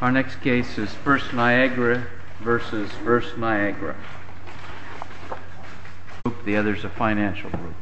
Our next case is First Niagara v. First Niagara I hope the other is a financial group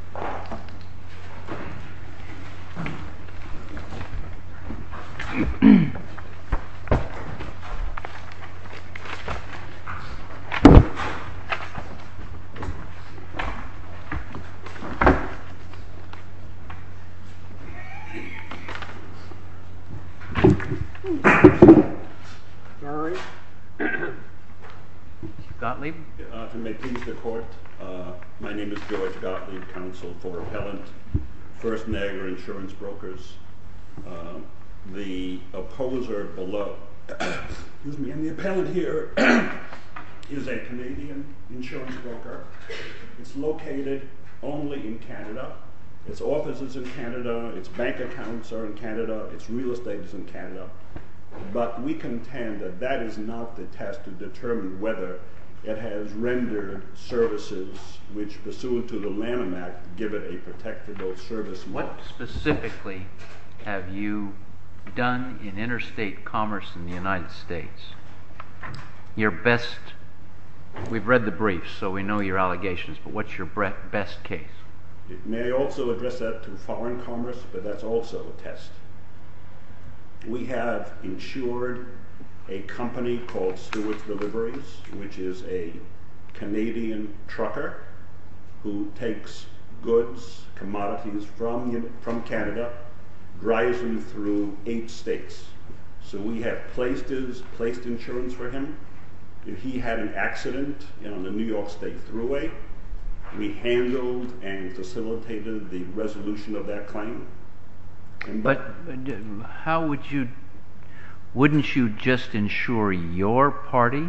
My name is George Gottlieb, counsel for Appellant, First Niagara Insurance Brokers The opposer below, excuse me, and the appellant here is a Canadian insurance broker It's located only in Canada, it's office is in Canada, it's bank accounts are in Canada, it's real estate is in Canada But we contend that that is not the test to determine whether it has rendered services which pursuant to the Lanham Act give it a protectable service model What specifically have you done in interstate commerce in the United States? We've read the briefs, so we know your allegations, but what's your best case? It may also address that to foreign commerce, but that's also a test We have insured a company called Stewards Deliveries, which is a Canadian trucker who takes goods, commodities from Canada, drives them through eight states So we have placed insurance for him, if he had an accident on the New York State Thruway, we handled and facilitated the resolution of that claim But wouldn't you just insure your party?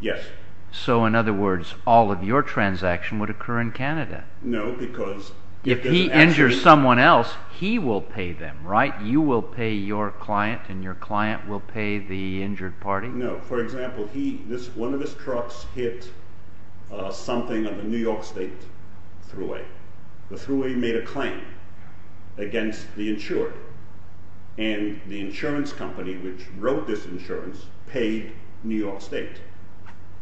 Yes So in other words, all of your transaction would occur in Canada? No, because If he injures someone else, he will pay them, right? You will pay your client and your client will pay the injured party? No, for example, one of his trucks hit something on the New York State Thruway. The Thruway made a claim against the insurer And the insurance company which wrote this insurance paid New York State,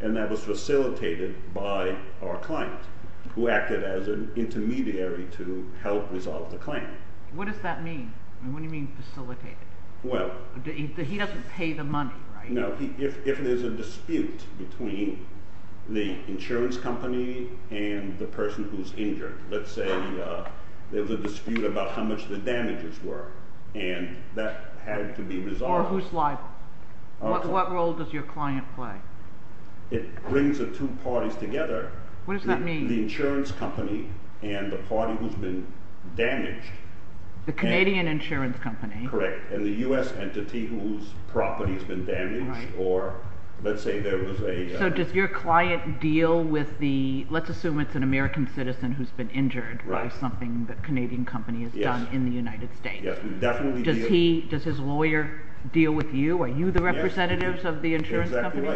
and that was facilitated by our client, who acted as an intermediary to help resolve the claim What does that mean? What do you mean facilitated? Well He doesn't pay the money, right? No, if there's a dispute between the insurance company and the person who's injured, let's say there's a dispute about how much the damages were, and that had to be resolved Or who's liable? What role does your client play? It brings the two parties together What does that mean? The insurance company and the party who's been damaged The Canadian insurance company Correct, and the U.S. entity whose property has been damaged, or let's say there was a So does your client deal with the, let's assume it's an American citizen who's been injured by something the Canadian company has done in the United States Yes, we definitely deal Does his lawyer deal with you? Are you the representatives of the insurance company?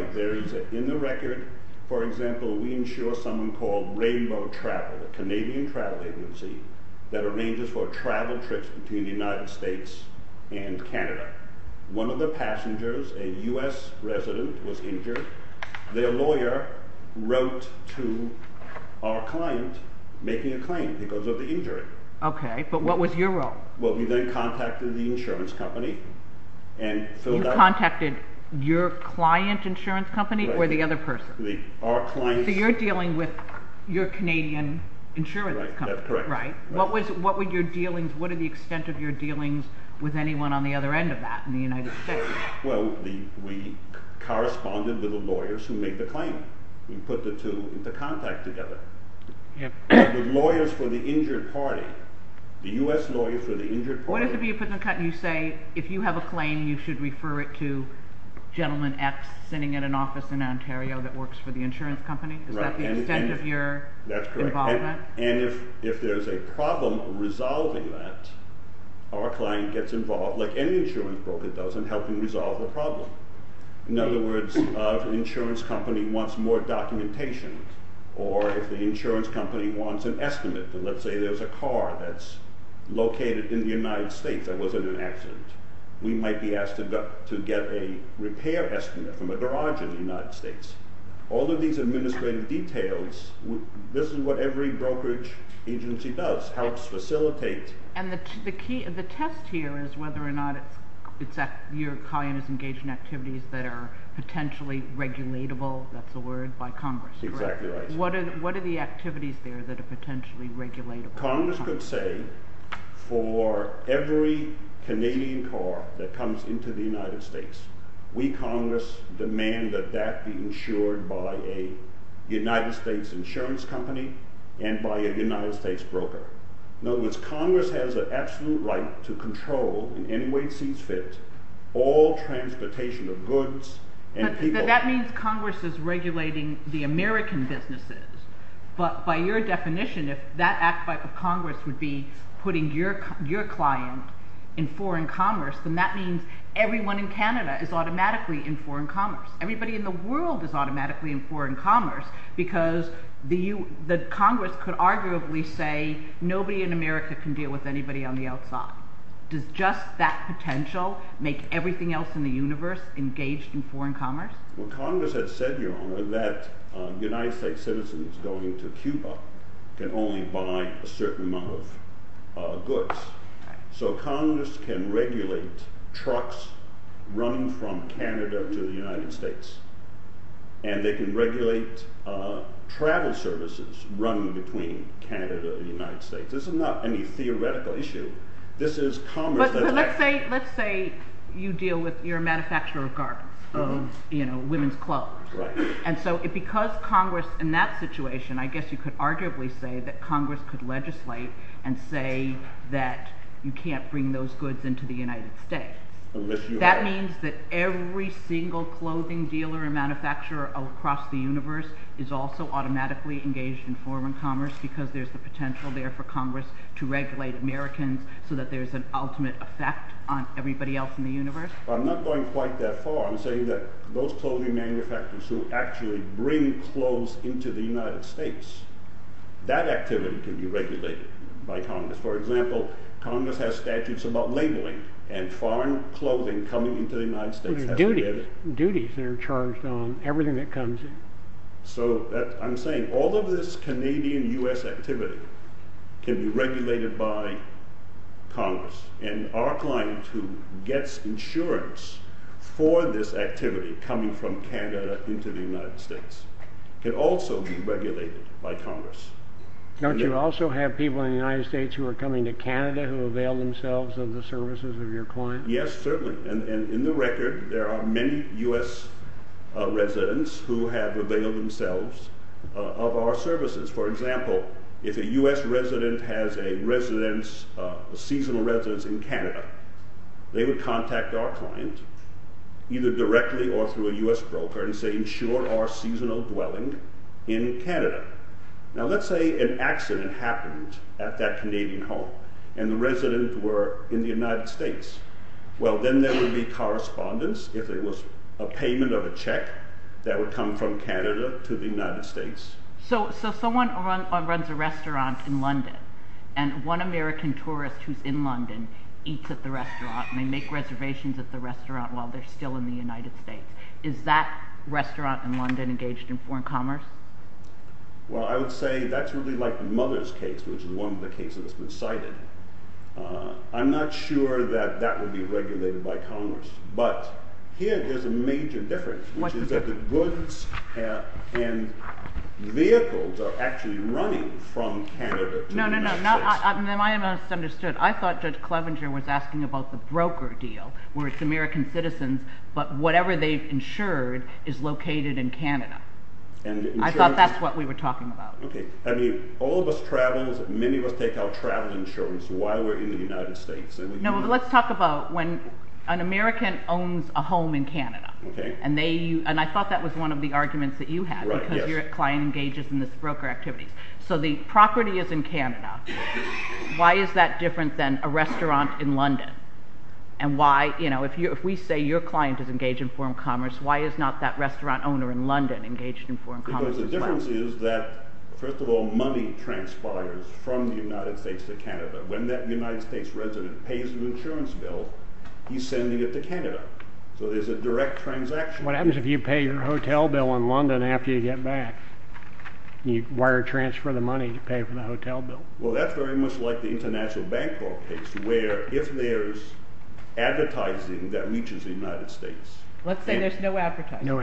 In the record, for example, we insure someone called Rainbow Travel, the Canadian travel agency, that arranges for travel trips between the United States and Canada One of the passengers, a U.S. resident, was injured. Their lawyer wrote to our client making a claim because of the injury Okay, but what was your role? Well, we then contacted the insurance company and filled out You contacted your client insurance company or the other person? Our client's So you're dealing with your Canadian insurance company Right, that's correct What were your dealings, what are the extent of your dealings with anyone on the other end of that in the United States? Well, we corresponded with the lawyers who made the claim We put the two into contact together The lawyers for the injured party, the U.S. lawyers for the injured party What if you say, if you have a claim, you should refer it to gentleman X sitting in an office in Ontario that works for the insurance company? Is that the extent of your involvement? That's correct, and if there's a problem resolving that, our client gets involved, like any insurance broker does, in helping resolve the problem In other words, if the insurance company wants more documentation, or if the insurance company wants an estimate Let's say there's a car that's located in the United States that was in an accident We might be asked to get a repair estimate from a garage in the United States All of these administrative details, this is what every brokerage agency does, helps facilitate And the test here is whether or not your client is engaged in activities that are potentially regulatable, that's the word, by Congress Exactly right What are the activities there that are potentially regulatable? Congress could say, for every Canadian car that comes into the United States, we, Congress, demand that that be insured by a United States insurance company and by a United States broker In other words, Congress has an absolute right to control, in any way it sees fit, all transportation of goods and people So that means Congress is regulating the American businesses, but by your definition, if that act of Congress would be putting your client in foreign commerce Then that means everyone in Canada is automatically in foreign commerce, everybody in the world is automatically in foreign commerce Because the Congress could arguably say, nobody in America can deal with anybody on the outside Does just that potential make everything else in the universe engaged in foreign commerce? Well, Congress has said, your honor, that United States citizens going to Cuba can only buy a certain amount of goods So Congress can regulate trucks running from Canada to the United States And they can regulate travel services running between Canada and the United States This is not any theoretical issue, this is commerce Let's say you deal with, you're a manufacturer of garments, women's clothes And so because Congress, in that situation, I guess you could arguably say that Congress could legislate and say that you can't bring those goods into the United States That means that every single clothing dealer and manufacturer across the universe is also automatically engaged in foreign commerce Because there's the potential there for Congress to regulate Americans so that there's an ultimate effect on everybody else in the universe I'm not going quite that far, I'm saying that those clothing manufacturers who actually bring clothes into the United States That activity can be regulated by Congress For example, Congress has statutes about labeling and foreign clothing coming into the United States There are duties that are charged on everything that comes in So I'm saying all of this Canadian US activity can be regulated by Congress And our client who gets insurance for this activity coming from Canada into the United States can also be regulated by Congress Don't you also have people in the United States who are coming to Canada who avail themselves of the services of your client? Yes, certainly, and in the record there are many US residents who have availed themselves of our services For example, if a US resident has a seasonal residence in Canada They would contact our client, either directly or through a US broker and say, insure our seasonal dwelling in Canada Now let's say an accident happened at that Canadian home and the residents were in the United States Well then there would be correspondence if it was a payment of a check that would come from Canada to the United States So someone runs a restaurant in London and one American tourist who's in London eats at the restaurant And they make reservations at the restaurant while they're still in the United States Is that restaurant in London engaged in foreign commerce? Well I would say that's really like the mother's case, which is one of the cases that's been cited I'm not sure that that would be regulated by Congress, but here there's a major difference Which is that the goods and vehicles are actually running from Canada to the United States No, no, no, am I misunderstood? I thought Judge Clevenger was asking about the broker deal Where it's American citizens, but whatever they've insured is located in Canada I thought that's what we were talking about I mean, all of us travel, many of us take out travel insurance while we're in the United States No, let's talk about when an American owns a home in Canada And I thought that was one of the arguments that you had, because your client engages in this broker activity So the property is in Canada, why is that different than a restaurant in London? And why, you know, if we say your client is engaged in foreign commerce, why is not that restaurant owner in London engaged in foreign commerce as well? Because the difference is that, first of all, money transpires from the United States to Canada When that United States resident pays an insurance bill, he's sending it to Canada So there's a direct transaction What happens if you pay your hotel bill in London after you get back? You wire transfer the money to pay for the hotel bill? Well, that's very much like the International Bank case, where if there's advertising that reaches the United States Let's say there's no advertising I'm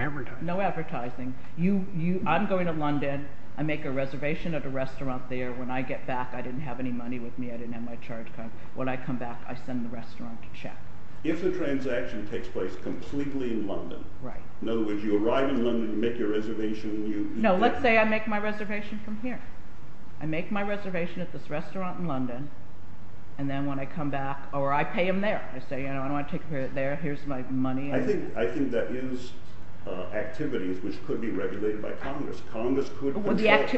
going to London, I make a reservation at a restaurant there When I get back, I didn't have any money with me, I didn't have my charge card When I come back, I send the restaurant to check If the transaction takes place completely in London In other words, you arrive in London, you make your reservation No, let's say I make my reservation from here I make my reservation at this restaurant in London And then when I come back, or I pay him there I say, you know, I don't want to take care of it there, here's my money I think that is activities which could be regulated by Congress Congress could control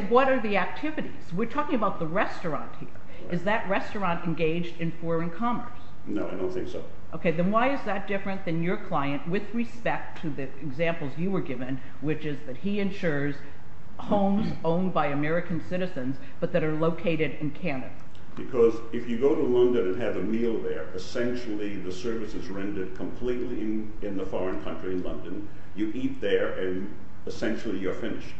What are the activities? We're talking about the restaurant here Is that restaurant engaged in foreign commerce? No, I don't think so Okay, then why is that different than your client with respect to the examples you were given Which is that he insures homes owned by American citizens But that are located in Canada Because if you go to London and have a meal there Essentially the service is rendered completely in the foreign country in London You eat there and essentially you're finished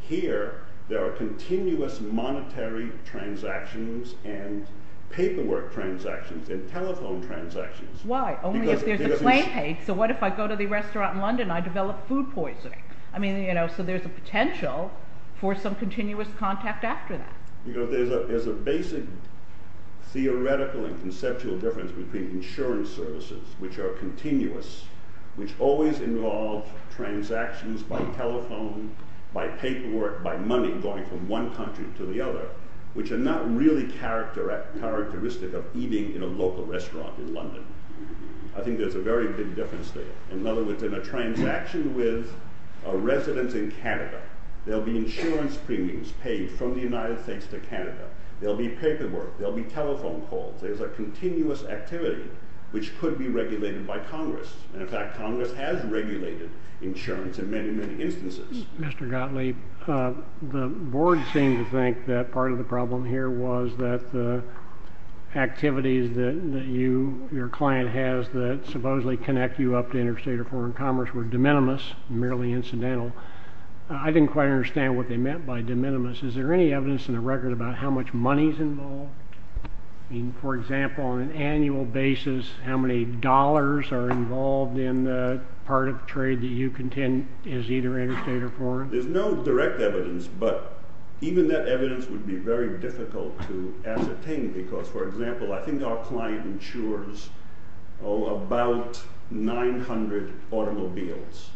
Here, there are continuous monetary transactions And paperwork transactions and telephone transactions Why? Only if there's a claim paid Okay, so what if I go to the restaurant in London and I develop food poisoning I mean, you know, so there's a potential for some continuous contact after that You know, there's a basic theoretical and conceptual difference between insurance services Which are continuous, which always involve transactions by telephone By paperwork, by money going from one country to the other Which are not really characteristic of eating in a local restaurant in London I think there's a very big difference there In other words, in a transaction with a resident in Canada There'll be insurance premiums paid from the United States to Canada There'll be paperwork, there'll be telephone calls There's a continuous activity which could be regulated by Congress And in fact, Congress has regulated insurance in many, many instances Mr. Gottlieb, the board seemed to think that part of the problem here was that The activities that your client has that supposedly connect you up to interstate or foreign commerce Were de minimis, merely incidental I didn't quite understand what they meant by de minimis Is there any evidence in the record about how much money's involved? I mean, for example, on an annual basis How many dollars are involved in the part of trade that you contend is either interstate or foreign? There's no direct evidence, but even that evidence would be very difficult to ascertain Because, for example, I think our client insures about 900 automobiles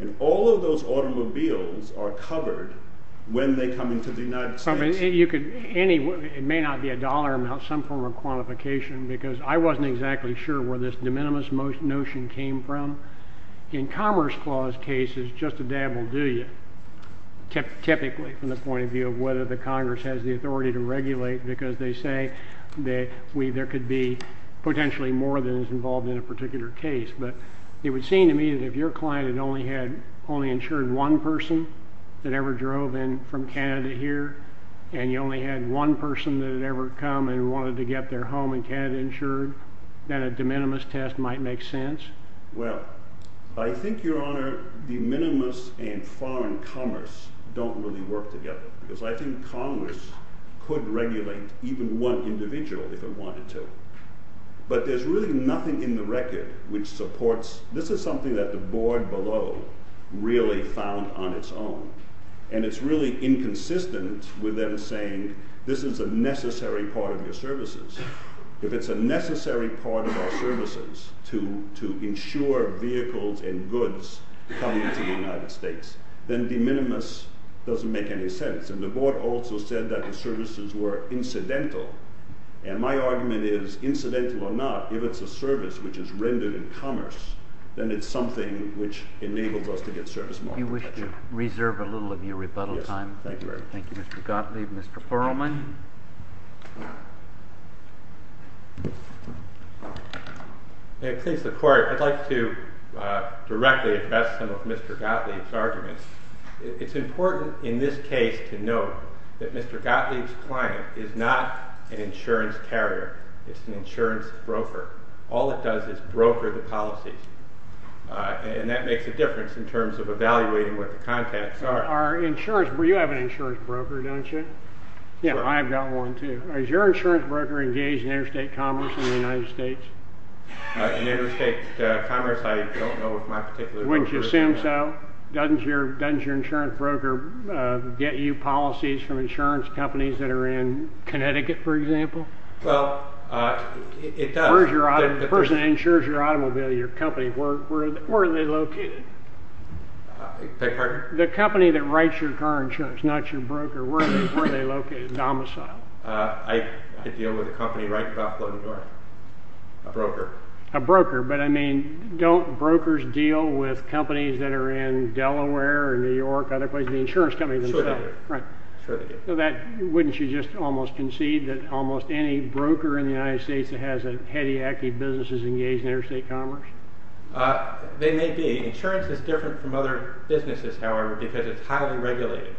And all of those automobiles are covered when they come into the United States It may not be a dollar amount, some form of quantification Because I wasn't exactly sure where this de minimis notion came from In Commerce Clause cases, just a dab will do you Typically, from the point of view of whether the Congress has the authority to regulate Because they say that there could be potentially more than is involved in a particular case But it would seem to me that if your client had only insured one person That ever drove in from Canada here And you only had one person that had ever come and wanted to get their home in Canada insured That a de minimis test might make sense Well, I think, Your Honor, de minimis and foreign commerce don't really work together Because I think Congress could regulate even one individual if it wanted to But there's really nothing in the record which supports This is something that the board below really found on its own And it's really inconsistent with them saying this is a necessary part of your services If it's a necessary part of our services to insure vehicles and goods come into the United States Then de minimis doesn't make any sense And the board also said that the services were incidental And my argument is, incidental or not, if it's a service which is rendered in commerce Then it's something which enables us to get service more effectively You wish to reserve a little of your rebuttal time? Yes, thank you very much Thank you, Mr. Gottlieb Mr. Perelman May it please the court, I'd like to directly address some of Mr. Gottlieb's arguments It's important in this case to note that Mr. Gottlieb's client is not an insurance carrier It's an insurance broker All it does is broker the policies And that makes a difference in terms of evaluating what the contents are You have an insurance broker, don't you? Yeah, I've got one too Is your insurance broker engaged in interstate commerce in the United States? In interstate commerce, I don't know of my particular broker Wouldn't you assume so? Doesn't your insurance broker get you policies from insurance companies that are in Connecticut, for example? Well, it does The person that insures your automobile, your company, where are they located? Beg your pardon? The company that writes your car insurance, not your broker, where are they located? Domicile? I deal with a company right across the board A broker A broker, but I mean, don't brokers deal with companies that are in Delaware or New York, other places? The insurance companies themselves Sure they do Right Sure they do Wouldn't you just almost concede that almost any broker in the United States that has a heady-acky business is engaged in interstate commerce? They may be Insurance is different from other businesses, however, because it's highly regulated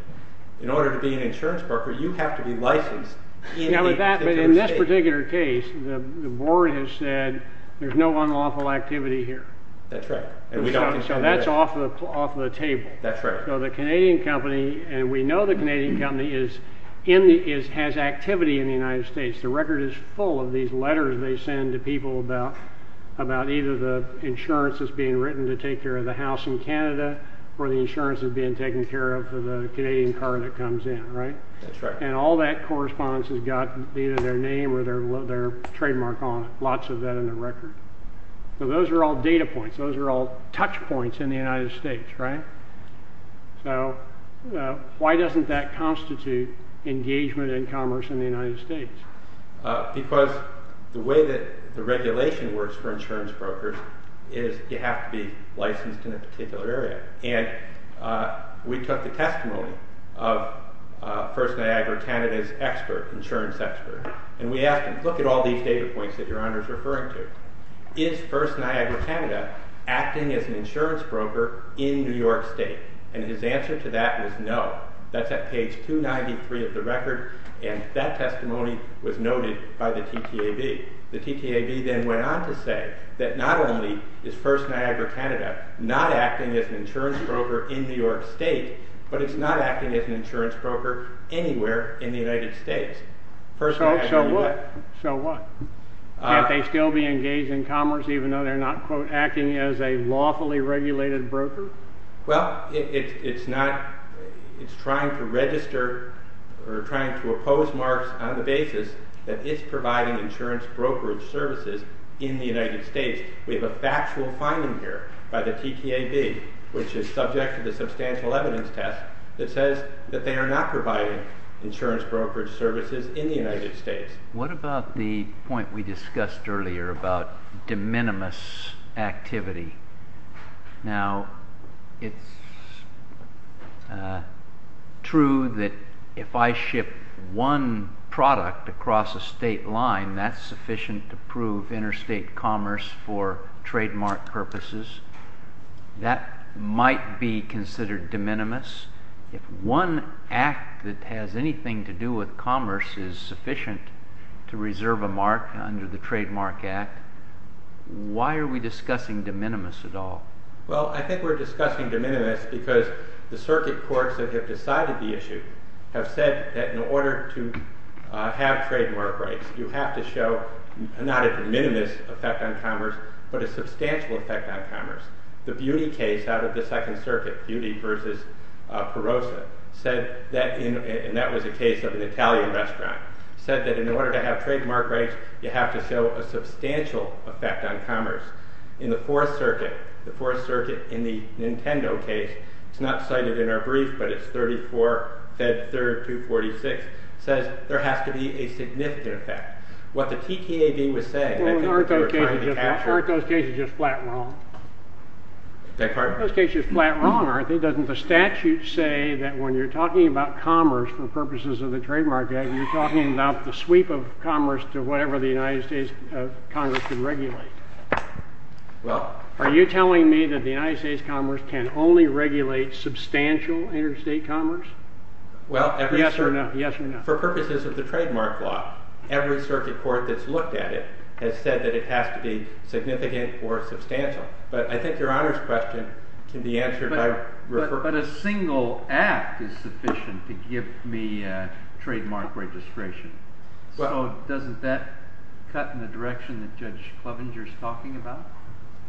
In order to be an insurance broker, you have to be licensed Now with that, but in this particular case, the board has said there's no unlawful activity here That's right So that's off the table That's right So the Canadian company, and we know the Canadian company has activity in the United States The record is full of these letters they send to people about either the insurance that's being written to take care of the house in Canada Or the insurance that's being taken care of for the Canadian car that comes in, right? That's right And all that correspondence has got either their name or their trademark on it, lots of that in the record So those are all data points, those are all touch points in the United States, right? So why doesn't that constitute engagement in commerce in the United States? Because the way that the regulation works for insurance brokers is you have to be licensed in a particular area And we took the testimony of First Niagara Canada's expert, insurance expert And we asked him, look at all these data points that your Honor is referring to Is First Niagara Canada acting as an insurance broker in New York State? And his answer to that was no That's at page 293 of the record and that testimony was noted by the TTAB The TTAB then went on to say that not only is First Niagara Canada not acting as an insurance broker in New York State But it's not acting as an insurance broker anywhere in the United States So what? Can't they still be engaged in commerce even though they're not, quote, acting as a lawfully regulated broker? Well, it's trying to register or trying to oppose marks on the basis that it's providing insurance brokerage services in the United States We have a factual finding here by the TTAB, which is subject to the substantial evidence test That says that they are not providing insurance brokerage services in the United States What about the point we discussed earlier about de minimis activity? Now, it's true that if I ship one product across a state line, that's sufficient to prove interstate commerce for trademark purposes That might be considered de minimis If one act that has anything to do with commerce is sufficient to reserve a mark under the Trademark Act Why are we discussing de minimis at all? Well, I think we're discussing de minimis because the circuit courts that have decided the issue have said that in order to have trademark rights You have to show not a de minimis effect on commerce, but a substantial effect on commerce The Beauty case out of the Second Circuit, Beauty v. Perosa, and that was a case of an Italian restaurant Said that in order to have trademark rights, you have to show a substantial effect on commerce In the Fourth Circuit, in the Nintendo case, it's not cited in our brief, but it's 34 Fed 3rd 246 Says there has to be a significant effect Well, aren't those cases just flat wrong? Those cases are flat wrong, aren't they? Doesn't the statute say that when you're talking about commerce for purposes of the Trademark Act You're talking about the sweep of commerce to whatever the United States Congress can regulate Are you telling me that the United States Congress can only regulate substantial interstate commerce? Well, for purposes of the trademark law, every circuit court that's looked at it has said that it has to be significant or substantial But I think your honors question can be answered by referring But a single act is sufficient to give me trademark registration So doesn't that cut in the direction that Judge Klovinger is talking about?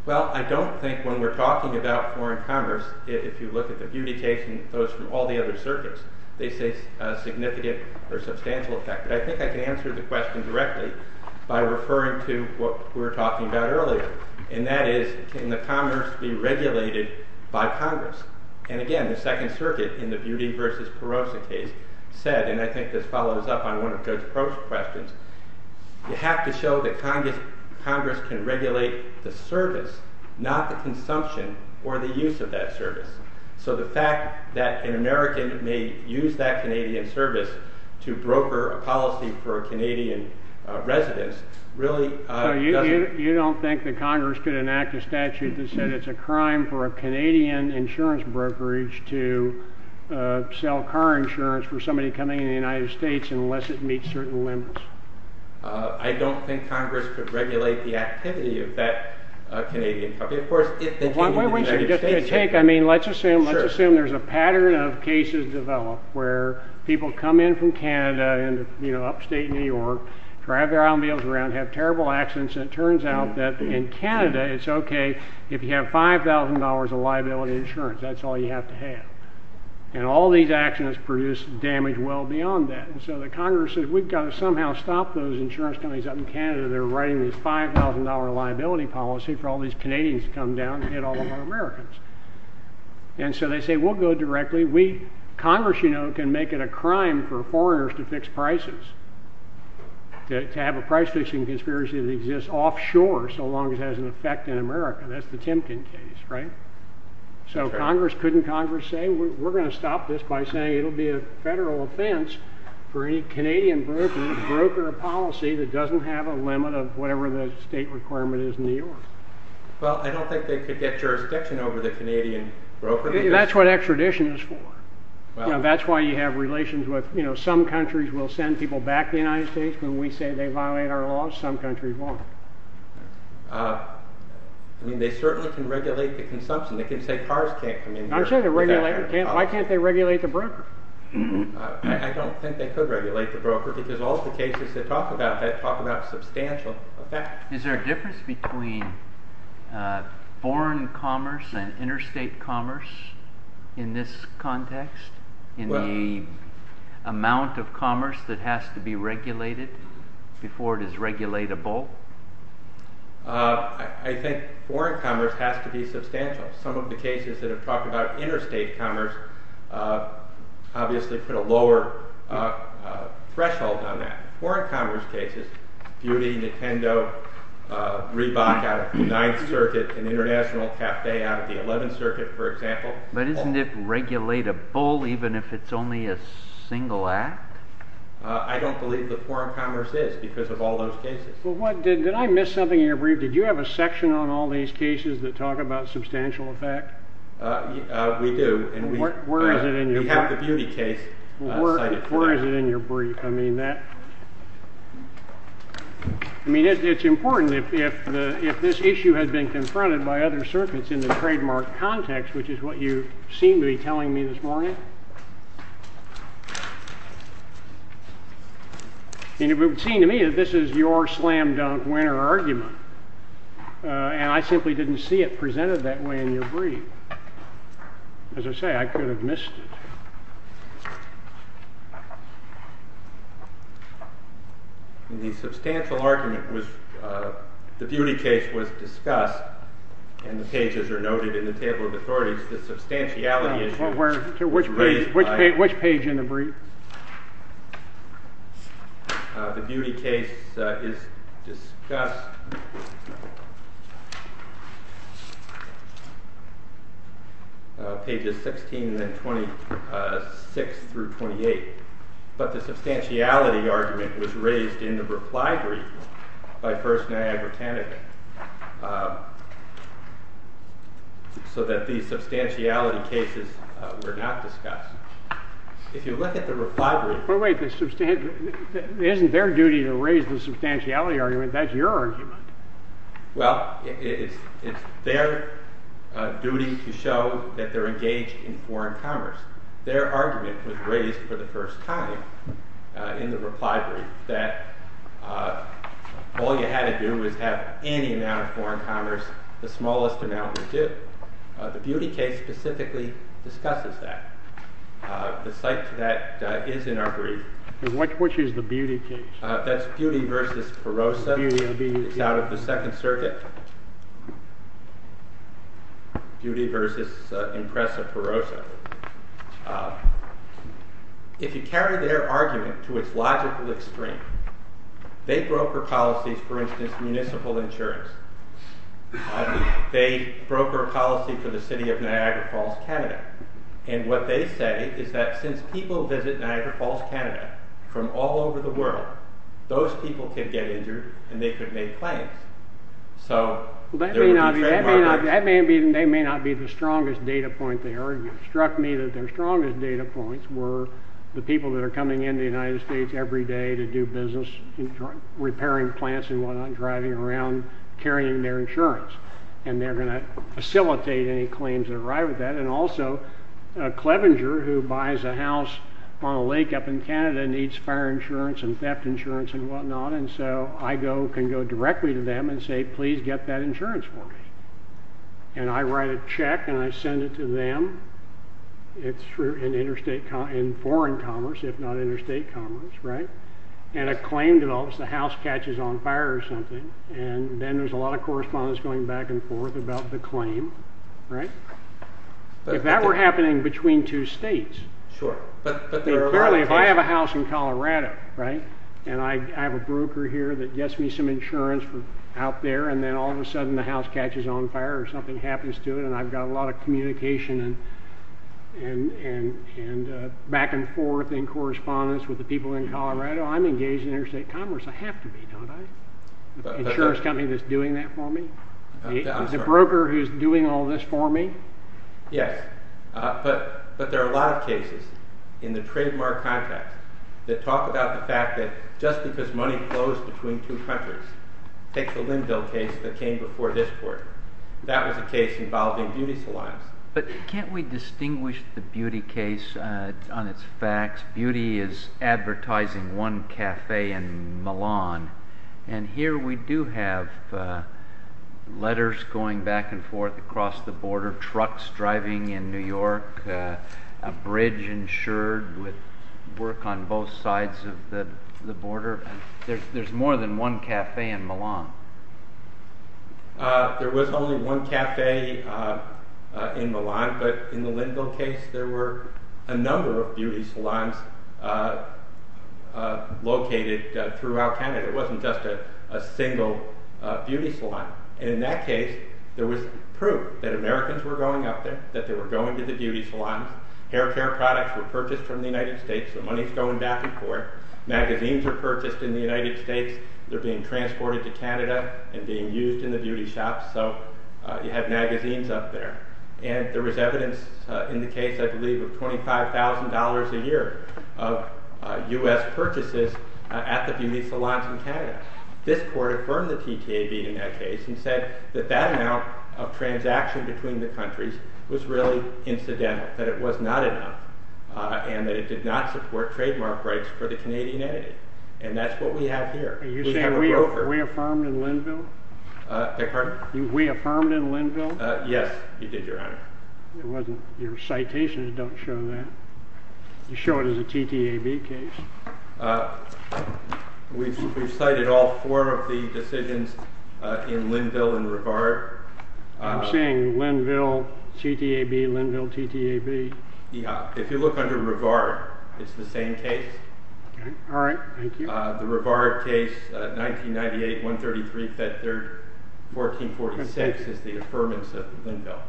Well, I don't think when we're talking about foreign commerce If you look at the Beauty case and those from all the other circuits They say significant or substantial effect But I think I can answer the question directly by referring to what we were talking about earlier And that is, can the commerce be regulated by Congress? And again, the Second Circuit in the Beauty v. Perosa case said And I think this follows up on one of Judge Klovinger's questions You have to show that Congress can regulate the service, not the consumption or the use of that service So the fact that an American may use that Canadian service to broker a policy for a Canadian residence You don't think that Congress could enact a statute that said it's a crime for a Canadian insurance brokerage To sell car insurance for somebody coming into the United States unless it meets certain limits? I don't think Congress could regulate the activity of that Canadian company Of course, if they came into the United States Let's assume there's a pattern of cases developed where people come in from Canada Upstate New York, drive their automobiles around, have terrible accidents And it turns out that in Canada it's okay if you have $5,000 of liability insurance That's all you have to have And all these accidents produce damage well beyond that And so the Congress says we've got to somehow stop those insurance companies up in Canada That are writing this $5,000 liability policy for all these Canadians to come down and hit all of our Americans And so they say we'll go directly Congress, you know, can make it a crime for foreigners to fix prices To have a price fixing conspiracy that exists offshore so long as it has an effect in America That's the Timken case, right? So Congress, couldn't Congress say we're going to stop this by saying it'll be a federal offense For any Canadian broker of policy that doesn't have a limit of whatever the state requirement is in New York Well, I don't think they could get jurisdiction over the Canadian broker That's what extradition is for That's why you have relations with, you know, some countries will send people back to the United States When we say they violate our laws, some countries won't I mean, they certainly can regulate the consumption They can say cars can't come in here Why can't they regulate the broker? I don't think they could regulate the broker Because all the cases that talk about that talk about substantial effect Is there a difference between foreign commerce and interstate commerce in this context? In the amount of commerce that has to be regulated before it is regulatable? I think foreign commerce has to be substantial Some of the cases that have talked about interstate commerce Obviously put a lower threshold on that Foreign commerce cases, Beauty, Nintendo, Reebok out of the 9th Circuit And International Cafe out of the 11th Circuit, for example But isn't it regulatable even if it's only a single act? I don't believe that foreign commerce is because of all those cases Did I miss something in your brief? Did you have a section on all these cases that talk about substantial effect? We do Where is it in your brief? We have the Beauty case Where is it in your brief? I mean, it's important if this issue had been confronted by other circuits in the trademark context Which is what you seem to be telling me this morning And it would seem to me that this is your slam dunk winner argument And I simply didn't see it presented that way in your brief As I say, I could have missed it The substantial argument was, the Beauty case was discussed And the pages are noted in the table of authorities Which page in the brief? The Beauty case is discussed Pages 16 and 26 through 28 But the substantiality argument was raised in the reply brief by First and Abertanek So that the substantiality cases were not discussed If you look at the reply brief But wait, isn't their duty to raise the substantiality argument? That's your argument Well, it's their duty to show that they're engaged in foreign commerce Their argument was raised for the first time in the reply brief That all you had to do was have any amount of foreign commerce, the smallest amount would do The Beauty case specifically discusses that The site to that is in our brief Which is the Beauty case? That's Beauty v. Perosa It's out of the Second Circuit Beauty v. Impressa Perosa If you carry their argument to its logical extreme They broker policies, for instance, municipal insurance They broker a policy for the city of Niagara Falls, Canada And what they say is that since people visit Niagara Falls, Canada From all over the world Those people could get injured and they could make claims That may not be the strongest data point they argue It struck me that their strongest data points were The people that are coming into the United States every day to do business Repairing plants and what not Driving around carrying their insurance And they're going to facilitate any claims that arrive at that And also, Clevenger, who buys a house on a lake up in Canada Needs fire insurance and theft insurance and what not And so I can go directly to them and say Please get that insurance for me And I write a check and I send it to them In foreign commerce, if not interstate commerce And a claim develops, the house catches on fire or something And then there's a lot of correspondence going back and forth about the claim If that were happening between two states Clearly, if I have a house in Colorado And I have a broker here that gets me some insurance out there And then all of a sudden the house catches on fire or something happens to it And I've got a lot of communication and back and forth In correspondence with the people in Colorado I'm engaged in interstate commerce, I have to be, don't I? The insurance company that's doing that for me The broker who's doing all this for me Yes, but there are a lot of cases in the trademark context That talk about the fact that just because money flows between two countries Take the Linville case that came before this court That was a case involving beauty salons But can't we distinguish the beauty case on its facts? Beauty is advertising one cafe in Milan And here we do have letters going back and forth across the border Trucks driving in New York A bridge insured with work on both sides of the border There's more than one cafe in Milan There was only one cafe in Milan But in the Linville case there were a number of beauty salons Located throughout Canada It wasn't just a single beauty salon And in that case there was proof that Americans were going up there That they were going to the beauty salons Haircare products were purchased from the United States So money's going back and forth Magazines were purchased in the United States They're being transported to Canada And being used in the beauty shops So you have magazines up there And there was evidence in the case, I believe, of $25,000 a year Of US purchases at the beauty salons in Canada This court affirmed the TTAB in that case And said that that amount of transaction between the countries Was really incidental That it was not enough And that it did not support trademark rights for the Canadian entity And that's what we have here Are you saying we affirmed in Linville? Beg your pardon? We affirmed in Linville? Yes, you did, Your Honor Your citations don't show that You show it as a TTAB case We've cited all four of the decisions in Linville and Rivard I'm saying Linville TTAB, Linville TTAB If you look under Rivard It's the same case All right, thank you The Rivard case, 1998, 133, Fed Third, 1446 Is the affirmance of Linville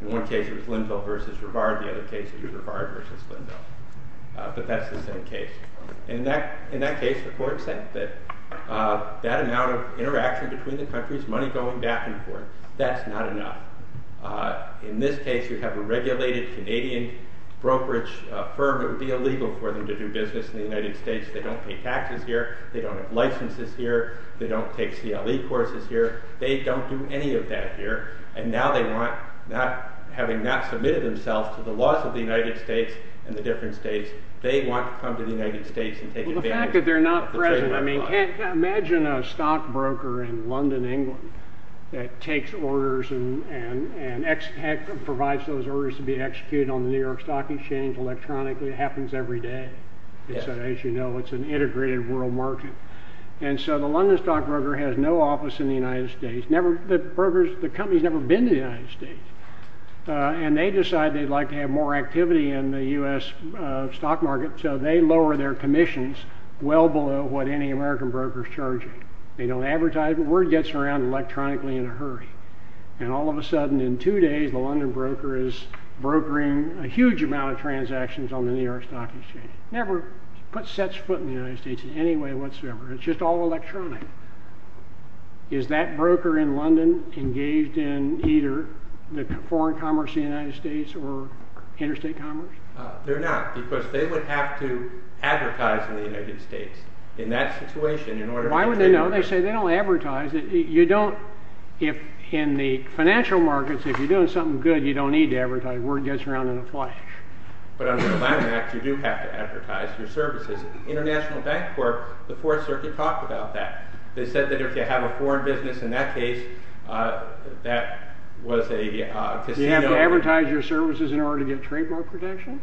In one case it was Linville versus Rivard In the other case it was Rivard versus Linville But that's the same case In that case the court said that That amount of interaction between the countries Money going back and forth That's not enough In this case you have a regulated Canadian brokerage firm It would be illegal for them to do business in the United States They don't pay taxes here They don't have licenses here They don't take CLE courses here They don't do any of that here And now they want, having not submitted themselves To the laws of the United States and the different states They want to come to the United States and take advantage Well the fact that they're not present Imagine a stock broker in London, England That takes orders and provides those orders To be executed on the New York Stock Exchange Electronically, it happens every day As you know it's an integrated world market And so the London Stock Broker has no office in the United States The company's never been to the United States And they decide they'd like to have more activity In the U.S. stock market So they lower their commissions Well below what any American broker's charging They don't advertise Word gets around electronically in a hurry And all of a sudden in two days The London broker is brokering a huge amount of transactions On the New York Stock Exchange Never put such foot in the United States in any way whatsoever It's just all electronic Is that broker in London engaged in either The foreign commerce of the United States or interstate commerce? They're not Because they would have to advertise in the United States In that situation in order to Why would they not? They say they don't advertise You don't If in the financial markets If you're doing something good You don't need to advertise Word gets around in a flash But under the Land Act You do have to advertise your services International Bank Corp The Fourth Circuit talked about that They said that if you have a foreign business In that case That was a casino You have to advertise your services In order to get trademark protection?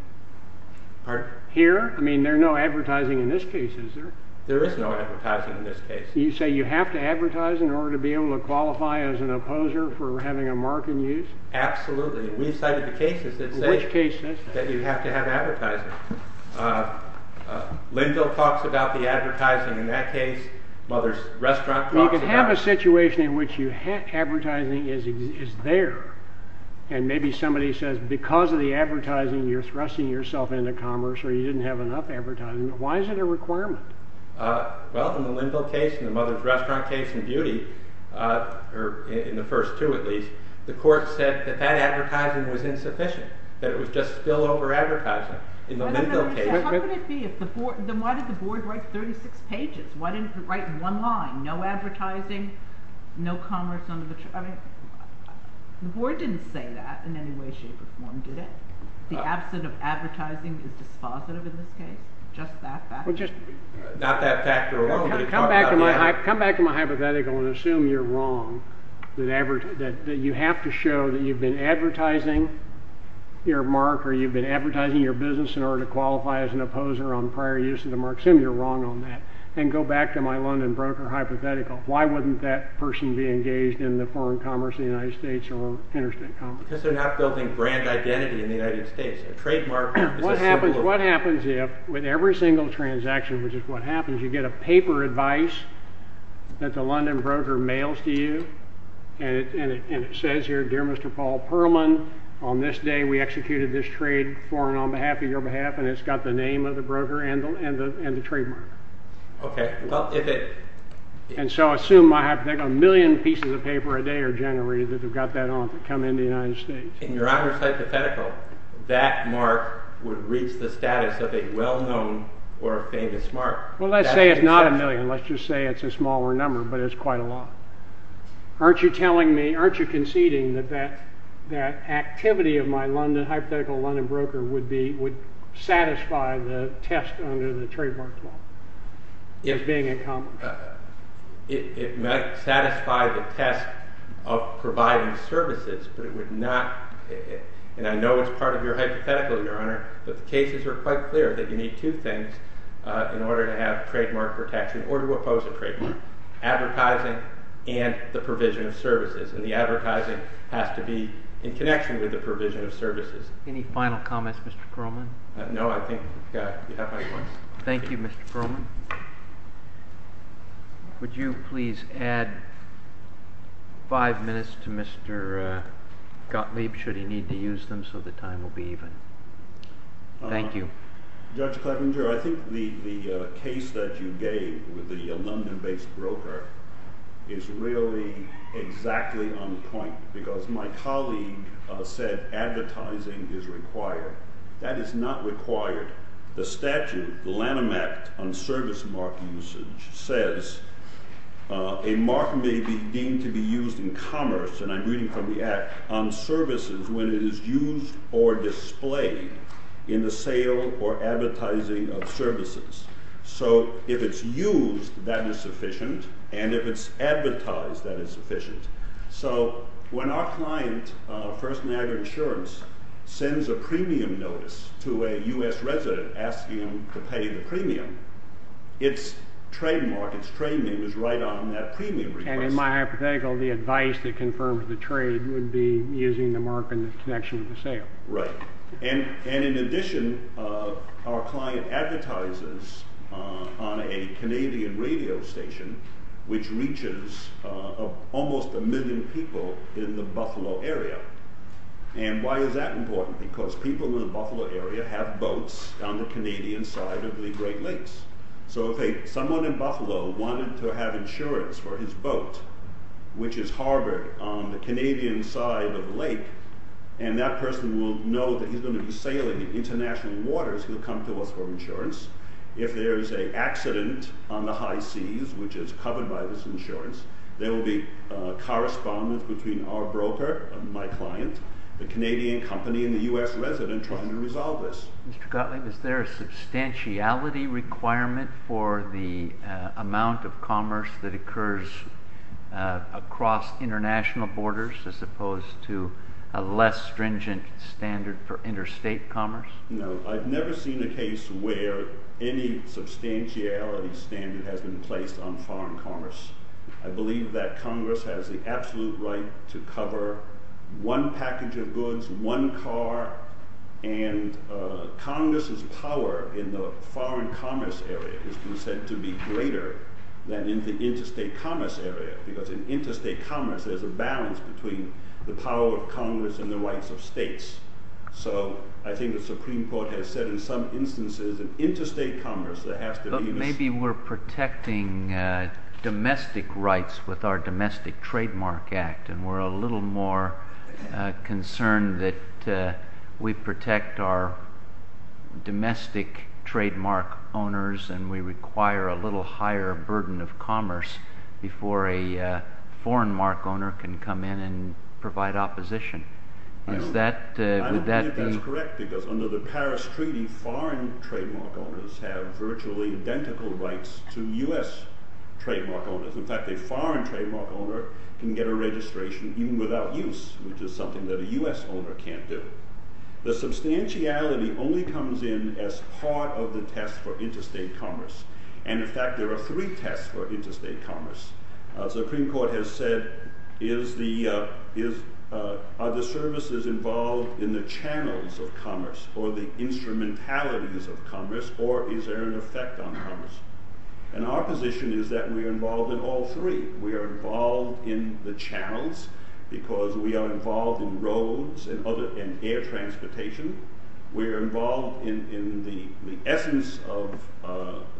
Pardon? Here? I mean there's no advertising in this case, is there? There is no advertising in this case You say you have to advertise In order to be able to qualify as an opposer For having a mark in use? Absolutely We've cited the cases that say Which cases? That you have to have advertising Linville talks about the advertising in that case While there's restaurants You can have a situation in which Advertising is there And maybe somebody says Because of the advertising You're thrusting yourself into commerce Or you didn't have enough advertising Why is it a requirement? Well in the Linville case And the Mother's Restaurant case in Beauty In the first two at least The court said that That advertising was insufficient That it was just spillover advertising In the Linville case How could it be? Then why did the board write 36 pages? Why didn't it write one line? No advertising No commerce under the trade I mean The board didn't say that In any way shape or form, did it? The absence of advertising Is dispositive in this case? Just that factor? Not that factor Come back to my hypothetical And assume you're wrong That you have to show That you've been advertising Your mark Or you've been advertising your business In order to qualify as an opposer On prior use of the mark Assume you're wrong on that And go back to my London Broker hypothetical Why wouldn't that person be engaged In the foreign commerce In the United States Or interstate commerce? Because they're not building brand identity In the United States A trademark is a symbol What happens if With every single transaction Which is what happens You get a paper advice That the London Broker mails to you And it says here Dear Mr. Paul Perlman On this day we executed this trade For and on behalf of your behalf And it's got the name of the broker And the trademark Okay, well if it And so assume I have A million pieces of paper a day Are generated that have got that on That come in the United States In your honours hypothetical That mark would reach the status Of a well known or famous mark Well let's say it's not a million Let's just say it's a smaller number But it's quite a lot Aren't you telling me Aren't you conceding that That activity of my London Hypothetical London Broker Would satisfy the test Under the trademark law As being accomplished It might satisfy the test Of providing services But it would not And I know it's part of your hypothetical Your honour But the cases are quite clear That you need two things In order to have trademark protection Or to oppose a trademark Advertising and the provision of services And the advertising has to be In connection with the provision of services Any final comments Mr. Perlman No I think we have Thank you Mr. Perlman Would you please add Five minutes to Mr. Gottlieb Should he need to use them So the time will be even Thank you Judge Clevenger I think the case that you gave With the London based broker Is really exactly on point Because my colleague said Advertising is required That is not required The statute, the Lanham Act On service mark usage Says a mark may be deemed To be used in commerce And I'm reading from the act On services when it is used Or displayed In the sale or advertising Of services So if it's used That is sufficient And if it's advertised That is sufficient First Niagara Insurance Sends a premium notice To a US resident Asking them to pay the premium It's trademark, it's trade name Is right on that premium request And in my hypothetical The advice that confirms the trade Would be using the mark In the connection of the sale Right And in addition Our client advertises On a Canadian radio station Which reaches Almost a million people In the Buffalo area And why is that important Because people in the Buffalo area Have boats On the Canadian side Of the Great Lakes So if someone in Buffalo Wanted to have insurance For his boat Which is harbored On the Canadian side of the lake And that person will know That he's going to be sailing International waters He'll come to us for insurance If there is an accident On the high seas Which is covered by this insurance There will be correspondence Between our broker My client The Canadian company And the US resident Trying to resolve this Mr. Gottlieb Is there a substantiality requirement For the amount of commerce That occurs Across international borders As opposed to A less stringent standard For interstate commerce No I've never seen a case Where any substantiality standard Has been placed on foreign commerce I believe that Congress Has the absolute right To cover one package of goods One car And Congress's power In the foreign commerce area Has been said to be greater Than in the interstate commerce area Because in interstate commerce There's a balance between The power of Congress And the rights of states So I think the Supreme Court Has said in some instances In interstate commerce There has to be Maybe we're protecting Domestic rights With our domestic trademark act And we're a little more Concerned that We protect our Domestic trademark owners And we require A little higher burden of commerce Before a foreign mark owner Can come in and Provide opposition I don't think that's correct Because under the Paris Treaty Foreign trademark owners Have virtually identical rights To US trademark owners In fact a foreign trademark owner Can get a registration Even without use Which is something That a US owner can't do The substantiality Only comes in As part of the test For interstate commerce And in fact there are Three tests for interstate commerce The Supreme Court has said Are the services involved In the channels of commerce Or the instrumentalities of commerce Or is there an effect on commerce And our position is that We are involved in all three We are involved in the channels Because we are involved in roads And air transportation We are involved in the essence Of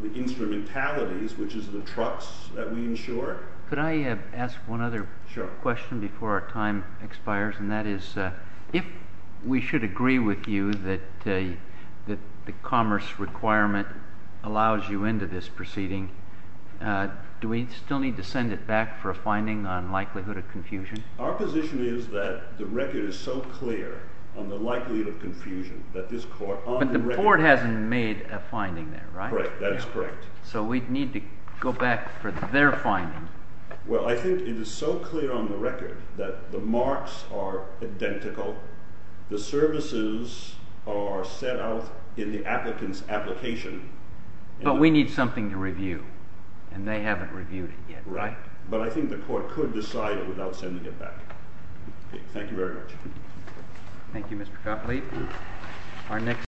the instrumentalities Which is the trucks that we insure Could I ask one other question Before our time expires And that is If we should agree with you That the commerce requirement Allows you into this proceeding Do we still need to send it back For a finding on likelihood of confusion Our position is that The record is so clear On the likelihood of confusion That this court But the court hasn't made A finding there, right? Correct, that is correct So we need to go back For their finding Well I think it is so clear On the record That the marks are identical The services are set out In the applicant's application But we need something to review And they haven't reviewed it yet Right, but I think the court Could decide it Without sending it back Thank you very much Thank you Mr. Copley